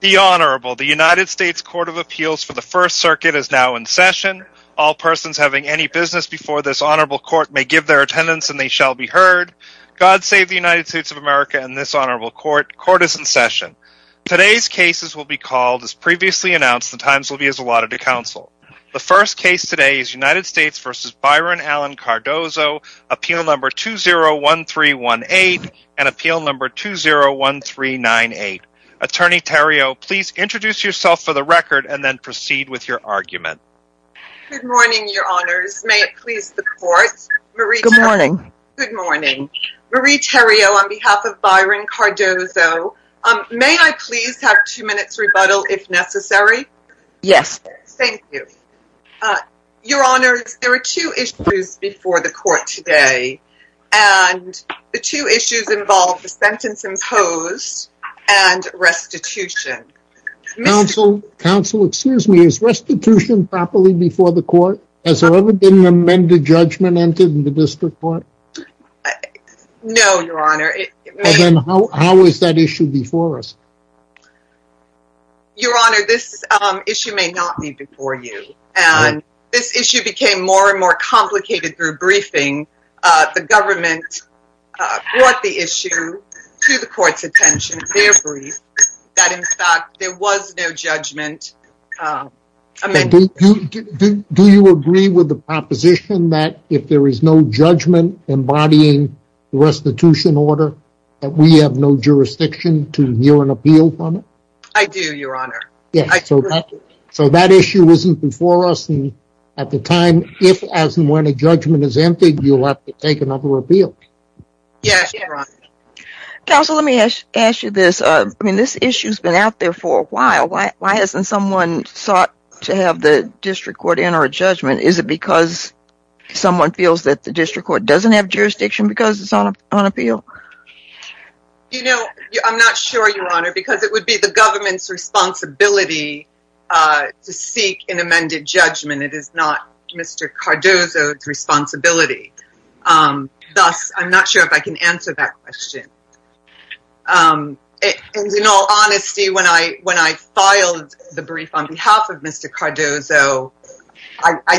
The Honorable, the United States Court of Appeals for the First Circuit is now in session. All persons having any business before this Honorable Court may give their attendance and they shall be heard. God save the United States of America and this Honorable Court. Court is in session. Today's cases will be called as previously announced. The times will be as allotted to counsel. The first case today is United States v. Byron Allen Cardozo, Appeal No. 201318 and Appeal No. 201398. Attorney Terrio, please introduce yourself for the record and then proceed with your argument. Good morning, Your Honors. May it please the Court? Good morning. Good morning. Marie Terrio, on behalf of Byron Cardozo, may I please have two minutes rebuttal if necessary? Yes. Thank you. Uh, Your Honors, there are two issues before the Court today and the two issues involve the sentence imposed and restitution. Counsel, counsel, excuse me, is restitution properly before the Court? Has there ever been an amended judgment entered in the District Court? No, Your Honor. Then how is that issue before us? Your Honor, this issue may not be before you and this issue became more and more complicated through briefing. The government brought the issue to the Court's attention, their brief, that in fact there was no judgment amended. Do you agree with the proposition that if there is no judgment embodying the restitution order that we have no jurisdiction to hear an appeal from it? I do, Your Honor. So that issue isn't before us and at the time, if and when a judgment is emptied, you'll have to take another appeal. Yes, Your Honor. Counsel, let me ask you this. I mean, this issue's been out there for a while. Why hasn't someone sought to have the District Court enter a judgment? Is it because someone feels that the District Court doesn't have jurisdiction because it's on appeal? You know, I'm not sure, Your Honor, because it would be the government's responsibility to seek an amended judgment. It is not Mr. Cardozo's responsibility. Thus, I'm not sure if I can answer that question. In all honesty, when I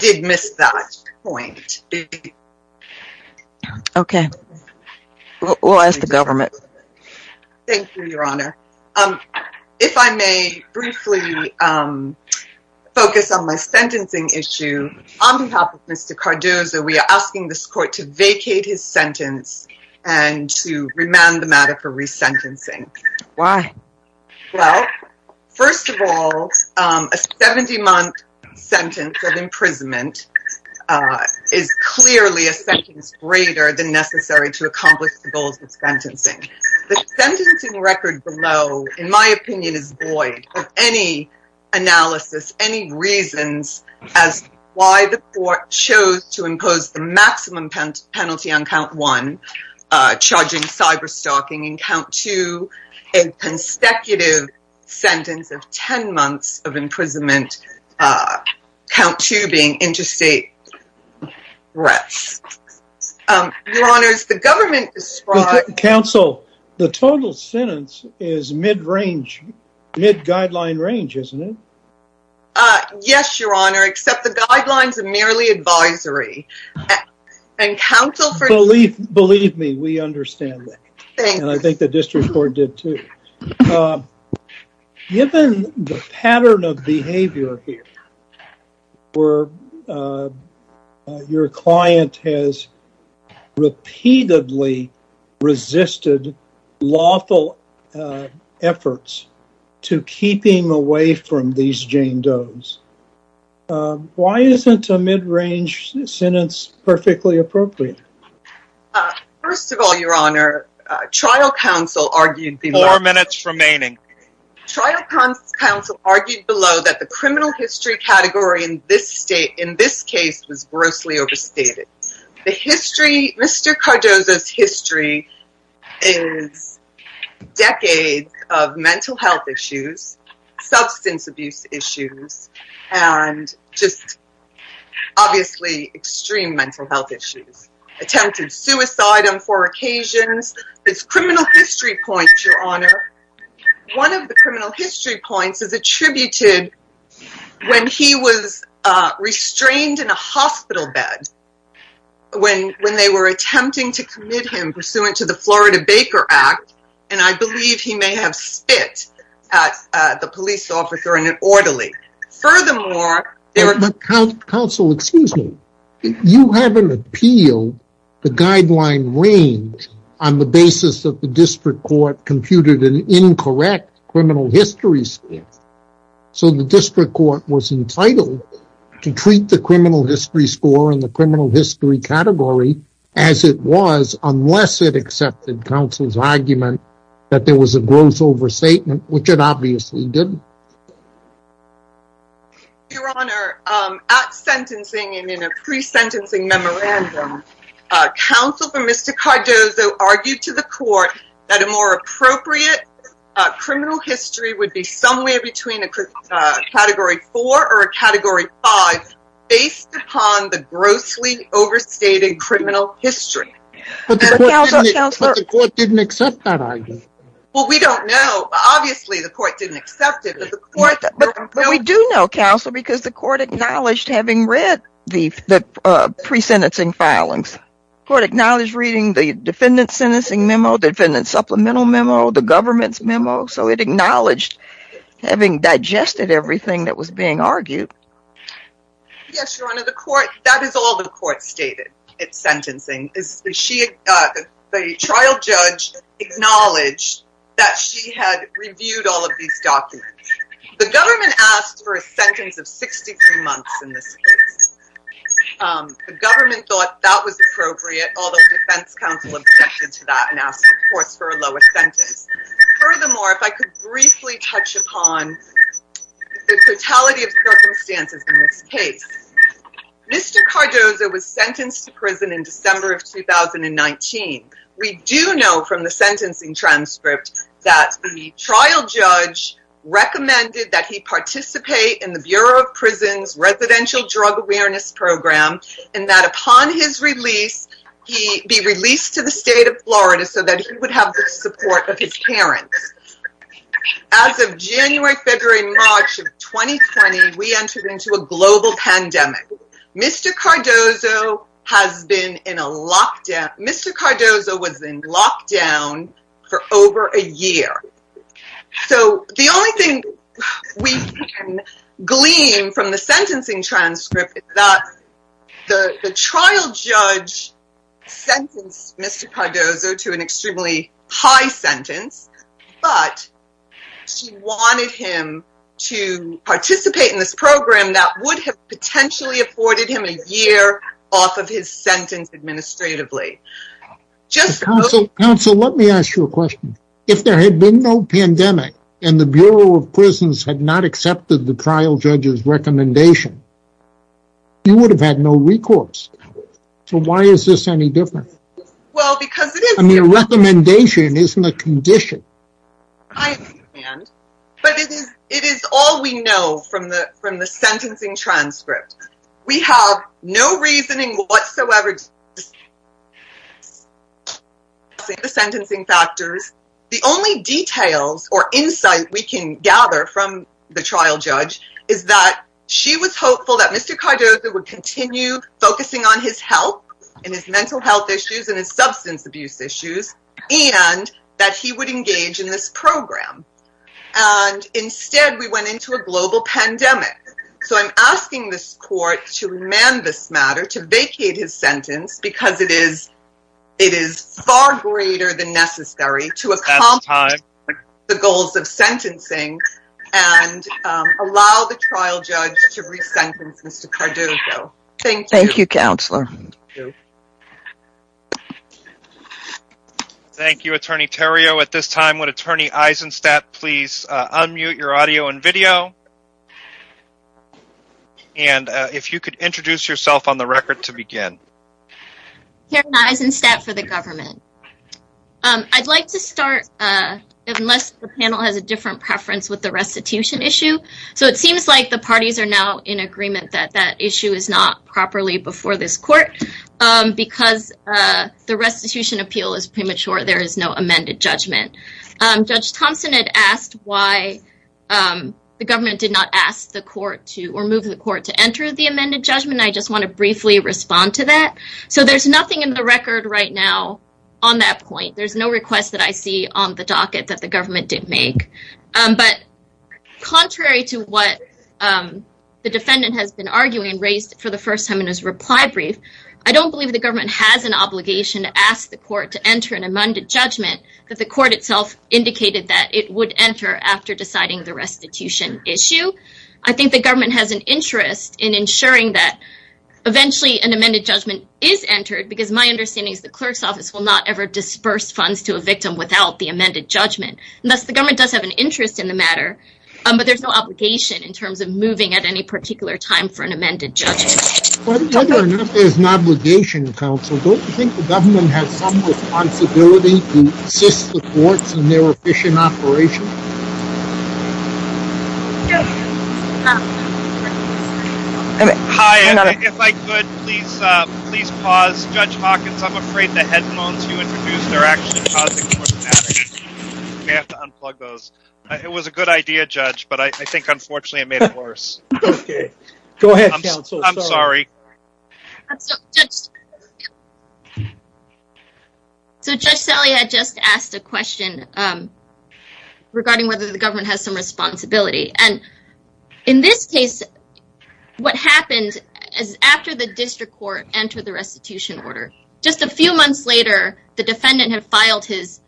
did miss that point. Okay, we'll ask the government. Thank you, Your Honor. If I may briefly focus on my sentencing issue, on behalf of Mr. Cardozo, we are asking this Court to vacate his sentence and to remand the matter for resentencing. Why? Well, first of all, a 70-month sentence of imprisonment is clearly a sentence greater than necessary to accomplish the goals of sentencing. The sentencing record below, in my opinion, is void of any analysis, any reasons as to why the Court chose to impose the maximum penalty on Count 1, charging cyberstalking, Count 2, a consecutive sentence of 10 months of imprisonment, Count 2 being interstate threats. Your Honor, the government describes... Counsel, the total sentence is mid-range, mid-guideline range, isn't it? Yes, Your Honor, except the guidelines are merely advisory. And counsel... Believe me, we understand that, and I think the district court did too. Given the pattern of behavior here, where your client has repeatedly resisted lawful efforts to keep him away from these Jane Doe's, why isn't a mid-range sentence perfectly appropriate? First of all, Your Honor, trial counsel argued... Four minutes remaining. Trial counsel argued below that the criminal history category in this state, in this case, was grossly overstated. The history, Mr. Cardozo's is decades of mental health issues, substance abuse issues, and just obviously extreme mental health issues. Attempted suicide on four occasions. It's criminal history points, Your Honor. One of the criminal history points is attributed when he was restrained in a hospital bed when they were attempting to commit him pursuant to the Florida Baker Act, and I believe he may have spit at the police officer in an orderly. Furthermore... Counsel, excuse me. You haven't appealed the guideline range on the basis that the district court computed an incorrect criminal history score. So the district court was entitled to treat the criminal history score and the criminal history category as it was unless it accepted counsel's argument that there was a gross overstatement, which it obviously didn't. Your Honor, at sentencing and in a pre-sentencing memorandum, counsel for Mr. Cardozo argued to the court that a more appropriate criminal history would be somewhere between a category four or a category five based upon the grossly overstated criminal history. But the court didn't accept that argument. Well, we don't know. Obviously, the court didn't accept it. But we do know, counsel, because the court acknowledged having read the pre-sentencing filings. The court acknowledged reading the defendant's sentencing memo, the defendant's supplemental memo, the government's memo. So it acknowledged having digested everything that was being argued. Yes, Your Honor, that is all the court stated at sentencing. The trial judge acknowledged that she had reviewed all of these documents. The government asked for a sentence of 63 months in this case. The government thought that was for a lower sentence. Furthermore, if I could briefly touch upon the totality of circumstances in this case. Mr. Cardozo was sentenced to prison in December of 2019. We do know from the sentencing transcript that the trial judge recommended that he participate in the Bureau of Prisons' residential drug awareness program and that upon his release, he be released to the state of Florida so that he would have the support of his parents. As of January, February, March of 2020, we entered into a global pandemic. Mr. Cardozo has been in a lockdown. Mr. Cardozo was in lockdown for over a year. So the only thing we can glean from the sentencing transcript is that the trial judge sentenced Mr. Cardozo to an extremely high sentence, but she wanted him to participate in this program that would have potentially afforded him a year off of his sentence administratively. Counsel, let me ask you a question. If there had been no pandemic and the Bureau of Prisons had not accepted the trial judge's recommendation, you would have had no recourse. So why is this any different? I mean a recommendation isn't a condition. But it is all we know from the from the sentencing transcript. We have no reasoning whatsoever. The sentencing factors, the only details or insight we can gather from the trial judge is that she was and his substance abuse issues and that he would engage in this program. And instead we went into a global pandemic. So I'm asking this court to amend this matter to vacate his sentence because it is far greater than necessary to accomplish the goals of sentencing and allow the trial judge to re-sentence Mr. Cardozo. Thank you. Thank you, counselor. Thank you, Attorney Terrio. At this time, would Attorney Eisenstadt please unmute your audio and video? And if you could introduce yourself on the record to begin. Karen Eisenstadt for the government. I'd like to start, unless the panel has a different preference, with the restitution issue. So it seems like the parties are now in agreement that issue is not properly before this court because the restitution appeal is premature. There is no amended judgment. Judge Thompson had asked why the government did not ask the court to or move the court to enter the amended judgment. I just want to briefly respond to that. So there's nothing in the record right now on that point. There's no request that I see on the docket that the government did make. But contrary to what the defendant has been arguing and raised for the first time in his reply brief, I don't believe the government has an obligation to ask the court to enter an amended judgment that the court itself indicated that it would enter after deciding the restitution issue. I think the government has an interest in ensuring that eventually an amended judgment is entered because my understanding is the clerk's office will not ever disperse funds to a victim without the amended judgment. And thus the government does have an interest in the matter, but there's no obligation in terms of moving at any particular time for an amended judgment. But whether or not there's an obligation, counsel, don't you think the government has some responsibility to assist the courts in their efficient operation? Hi, if I could, please, please pause. Judge Hawkins, I'm afraid the headphones you introduced are actually causing some problems. We have to unplug those. It was a good idea, Judge, but I think unfortunately it made it worse. Okay, go ahead. I'm sorry. So Judge Selle had just asked a question regarding whether the government has some responsibility. And in this case, what happened is after the district court entered the restitution order, just a few months later, the defendant had filed his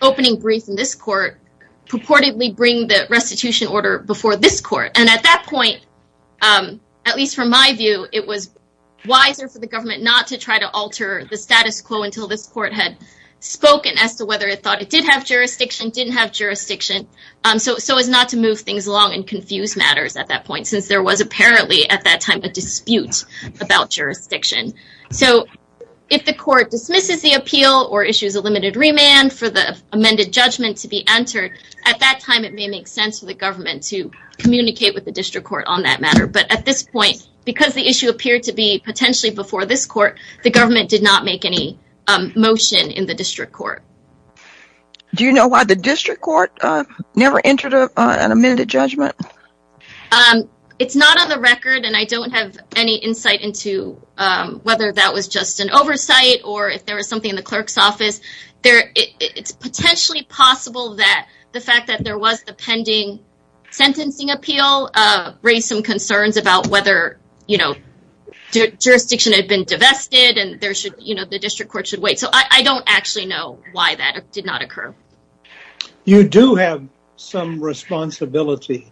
opening brief in this court, purportedly bring the restitution order before this court. And at that point, at least from my view, it was wiser for the government not to try to alter the status quo until this court had spoken as to whether it thought it did have jurisdiction, didn't have jurisdiction. So as not to move things along and confuse matters at that point, since there was if the court dismisses the appeal or issues a limited remand for the amended judgment to be entered at that time, it may make sense for the government to communicate with the district court on that matter. But at this point, because the issue appeared to be potentially before this court, the government did not make any motion in the district court. Do you know why the district court never entered an amended judgment? It's not on the record and I don't have any insight into whether that was just an oversight or if there was something in the clerk's office. There, it's potentially possible that the fact that there was the pending sentencing appeal raised some concerns about whether, you know, jurisdiction had been divested and there should, you know, the district court should wait. So I don't actually know why that did not occur. You do have some responsibility,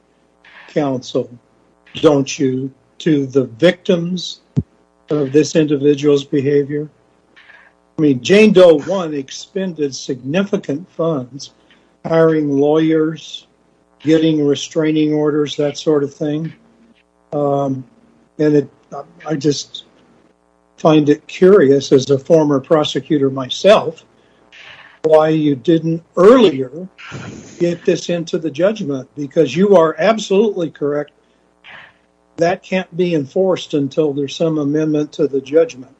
counsel, don't you, to the victims of this individual's behavior? I mean, Jane Doe 1 expended significant funds hiring lawyers, getting restraining orders, that sort of thing. And I just find it curious as a former prosecutor myself, why you didn't earlier get this into the judgment. Because you are absolutely correct, that can't be enforced until there's some amendment to the judgment.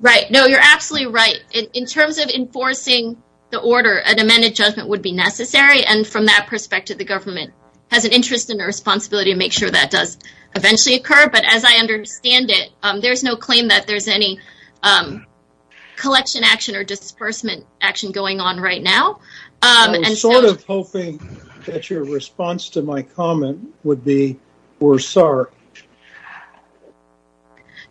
Right. No, you're absolutely right. In terms of enforcing the order, an amended judgment would be necessary. And from that perspective, the government has an interest and a responsibility to make sure that does eventually occur. But as I understand it, there's no claim that there's any collection action or disbursement action going on right now. I was sort of hoping that your response to my comment would be, we're sorry.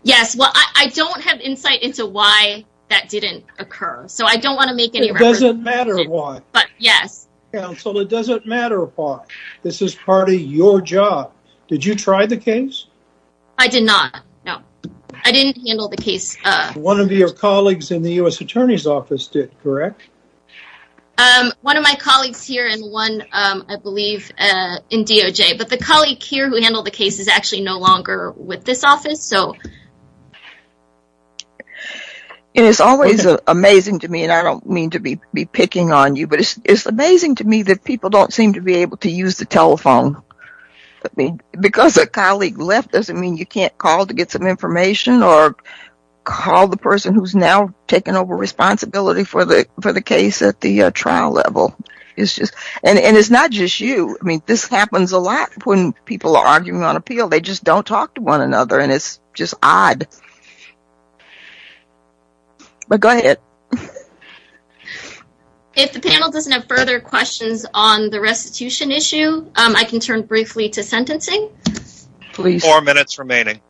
Yes, well, I don't have insight into why that didn't occur. So I don't want to make any... It doesn't matter why. But yes. Counsel, it doesn't matter why. This is part of your job. Did you try the case? I did not. No, I didn't handle the case. One of your colleagues in the US Attorney's Office did, correct? One of my colleagues here and one, I believe, in DOJ, but the colleague here who handled the case is actually no longer with this office. So... It is always amazing to me, and I don't mean to be picking on you, but it's amazing to me that people don't seem to be able to use the telephone. Because a colleague left doesn't mean you can't call to get some information or call the person who's now taken over responsibility for the case at the trial level. And it's not just you. I mean, this happens a lot when people are arguing on appeal. They just don't talk to one another and it's just odd. But go ahead. If the panel doesn't have further questions on the restitution issue, I can turn briefly to sentencing. Four minutes remaining.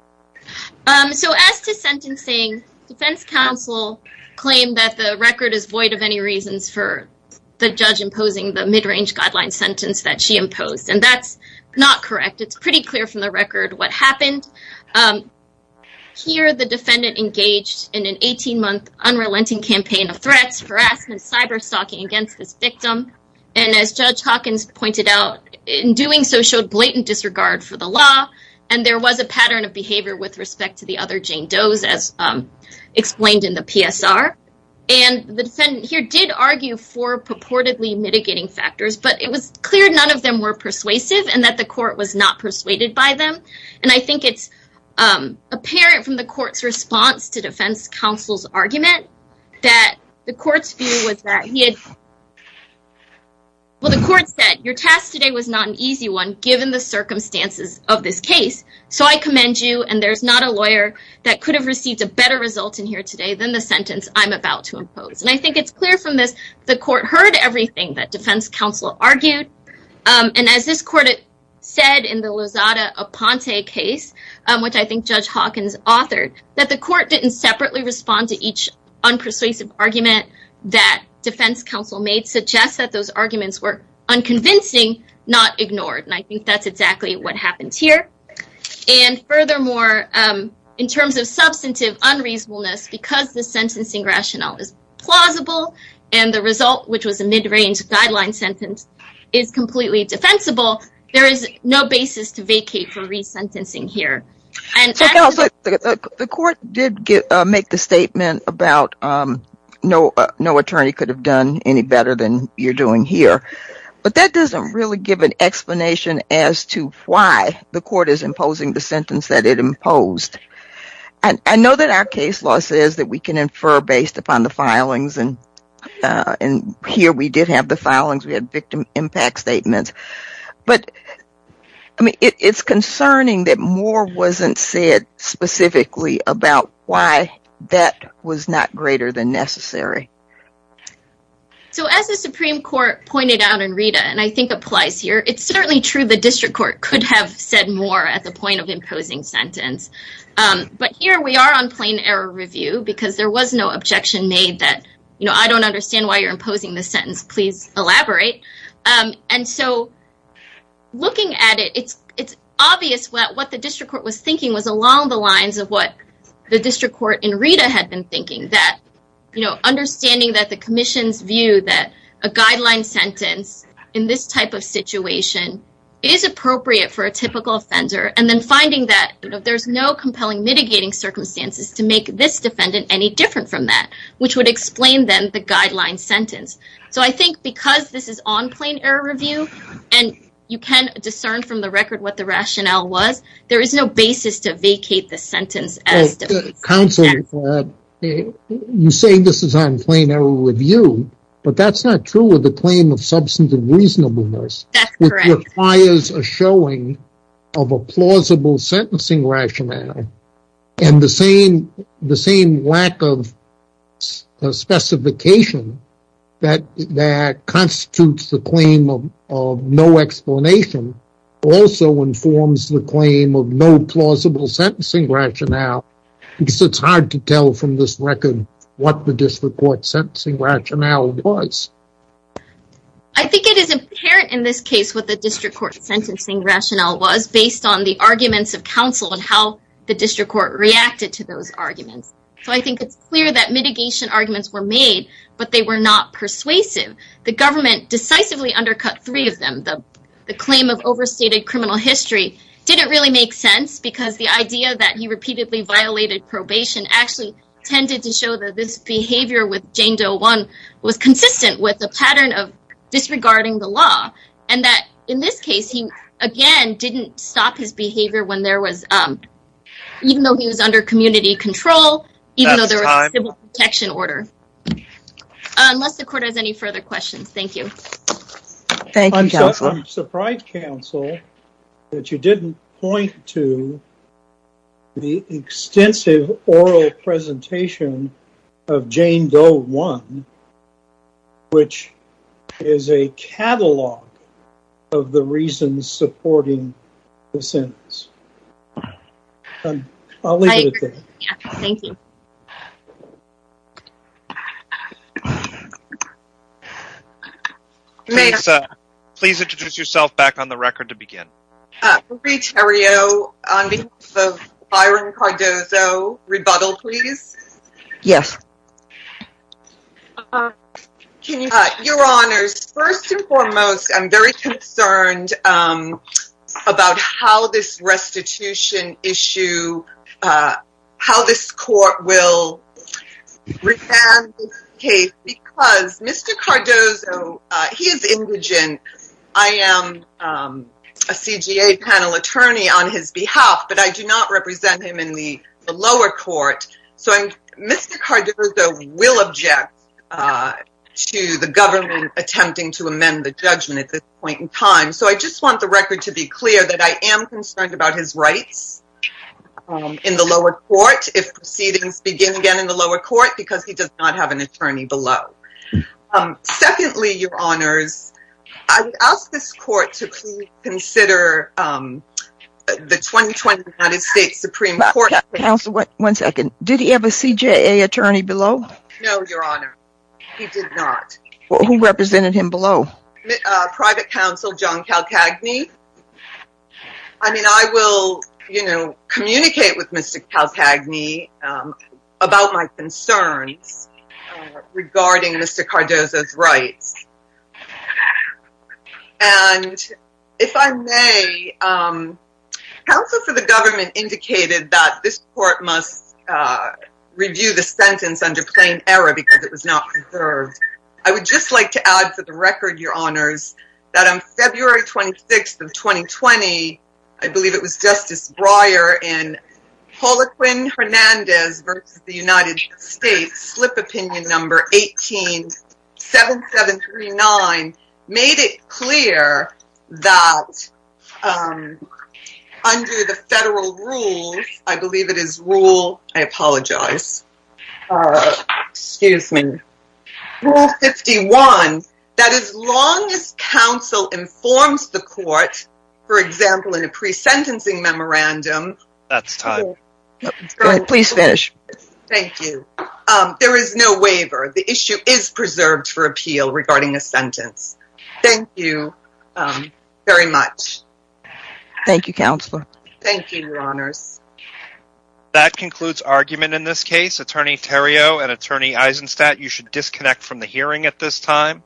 So as to sentencing, defense counsel claimed that the record is void of any reasons for the judge imposing the mid-range guideline sentence that she imposed. And that's not correct. It's pretty clear from the record what happened. Here, the defendant engaged in an 18-month unrelenting campaign of threats, harassment, cyber-stalking against this victim. And as Judge Hawkins pointed out, in doing so showed blatant disregard for the law. And there was a pattern of behavior with respect to the other Jane Does, as explained in the PSR. And the defendant here did argue for purportedly mitigating factors. But it was clear none of them were persuasive and that the court was not persuaded by them. And I think it's apparent from the court's response to defense counsel's argument that the court's view was that he had. Well, the court said your task today was not an easy one, given the circumstances of this case. So I commend you. And there's not a lawyer that could have received a better result in here today than the sentence I'm about to impose. And I think it's clear from this, the court heard everything that defense counsel argued. And as this court said in the Lozada Aponte case, which I think Judge Hawkins authored, that the court didn't separately respond to each persuasive argument that defense counsel made suggests that those arguments were unconvincing, not ignored. And I think that's exactly what happens here. And furthermore, in terms of substantive unreasonableness, because the sentencing rationale is plausible, and the result, which was a mid-range guideline sentence, is completely defensible. There is no basis to vacate for resentencing here. Counsel, the court did make the statement about no attorney could have done any better than you're doing here. But that doesn't really give an explanation as to why the court is imposing the sentence that it imposed. And I know that our case law says that we can infer based upon the filings. And here we did have the filings. We had victim impact statements. But it's concerning that more wasn't said specifically about why that was not greater than necessary. So as the Supreme Court pointed out in Rita, and I think applies here, it's certainly true the district court could have said more at the point of imposing sentence. But here we are on plain error review because there was no objection made that, you know, I don't understand why you're the district court was thinking was along the lines of what the district court in Rita had been thinking that, you know, understanding that the commission's view that a guideline sentence in this type of situation is appropriate for a typical offender, and then finding that there's no compelling mitigating circumstances to make this defendant any different from that, which would explain then the guideline sentence. So I think because this is on plain error review, and you can discern from the record what the rationale was, there is no basis to vacate the sentence. Counselor, you say this is on plain error review, but that's not true of the claim of substance and reasonableness. That's correct. It requires a showing of a plausible sentencing rationale, and the same lack of specification that constitutes the claim of no explanation also informs the claim of no plausible sentencing rationale, because it's hard to tell from this record what the district court sentencing rationale was. I think it is apparent in this case what the district court reacted to those arguments. So I think it's clear that mitigation arguments were made, but they were not persuasive. The government decisively undercut three of them. The claim of overstated criminal history didn't really make sense, because the idea that he repeatedly violated probation actually tended to show that this behavior with Jane Doe 1 was consistent with the pattern of disregarding the law, and that in this case, he again didn't stop his behavior when there was, even though he was under community control, even though there was a civil protection order. Unless the court has any further questions, thank you. Thank you, Counselor. I'm surprised, Counsel, that you didn't point to the extensive oral presentation of Jane Doe 1, which is a catalog of the reasons supporting the sentence. I'll leave it at that. Thank you. Please introduce yourself back on the record to begin. Marie Theriault, on behalf of Byron Cardozo. Rebuttal, please. Yes. Your Honors, first and foremost, I'm very concerned about how this restitution issue, uh, how this court will revamp this case, because Mr. Cardozo, he is indigent. I am a CGA panel attorney on his behalf, but I do not represent him in the lower court. So Mr. Cardozo will object to the government attempting to amend the judgment at this point in time. So I just want the record to be clear that I am concerned about his rights in the lower court, if proceedings begin again in the lower court, because he does not have an attorney below. Secondly, Your Honors, I would ask this court to please consider the 2020 United States Supreme Court... Counsel, one second. Did he have a CJA attorney below? No, Your Honor. He did not. Who represented him below? Private Counsel John Calcagni. I mean, I will, you know, communicate with Mr. Calcagni about my concerns regarding Mr. Cardozo's rights. And if I may, counsel for the government indicated that this court must review the that on February 26th of 2020, I believe it was Justice Breyer in Poliquin-Hernandez v. United States, Slip Opinion No. 18-7739, made it clear that under the federal rules, I believe it is Rule... I apologize. Excuse me. Rule 51, that as long as counsel informs the court, for example, in a pre-sentencing memorandum... That's time. Go ahead. Please finish. Thank you. There is no waiver. The issue is preserved for appeal regarding a sentence. Thank you very much. Thank you, Your Honors. That concludes argument in this case. Attorney Theriault and Attorney Eisenstadt, you should disconnect from the hearing at this time.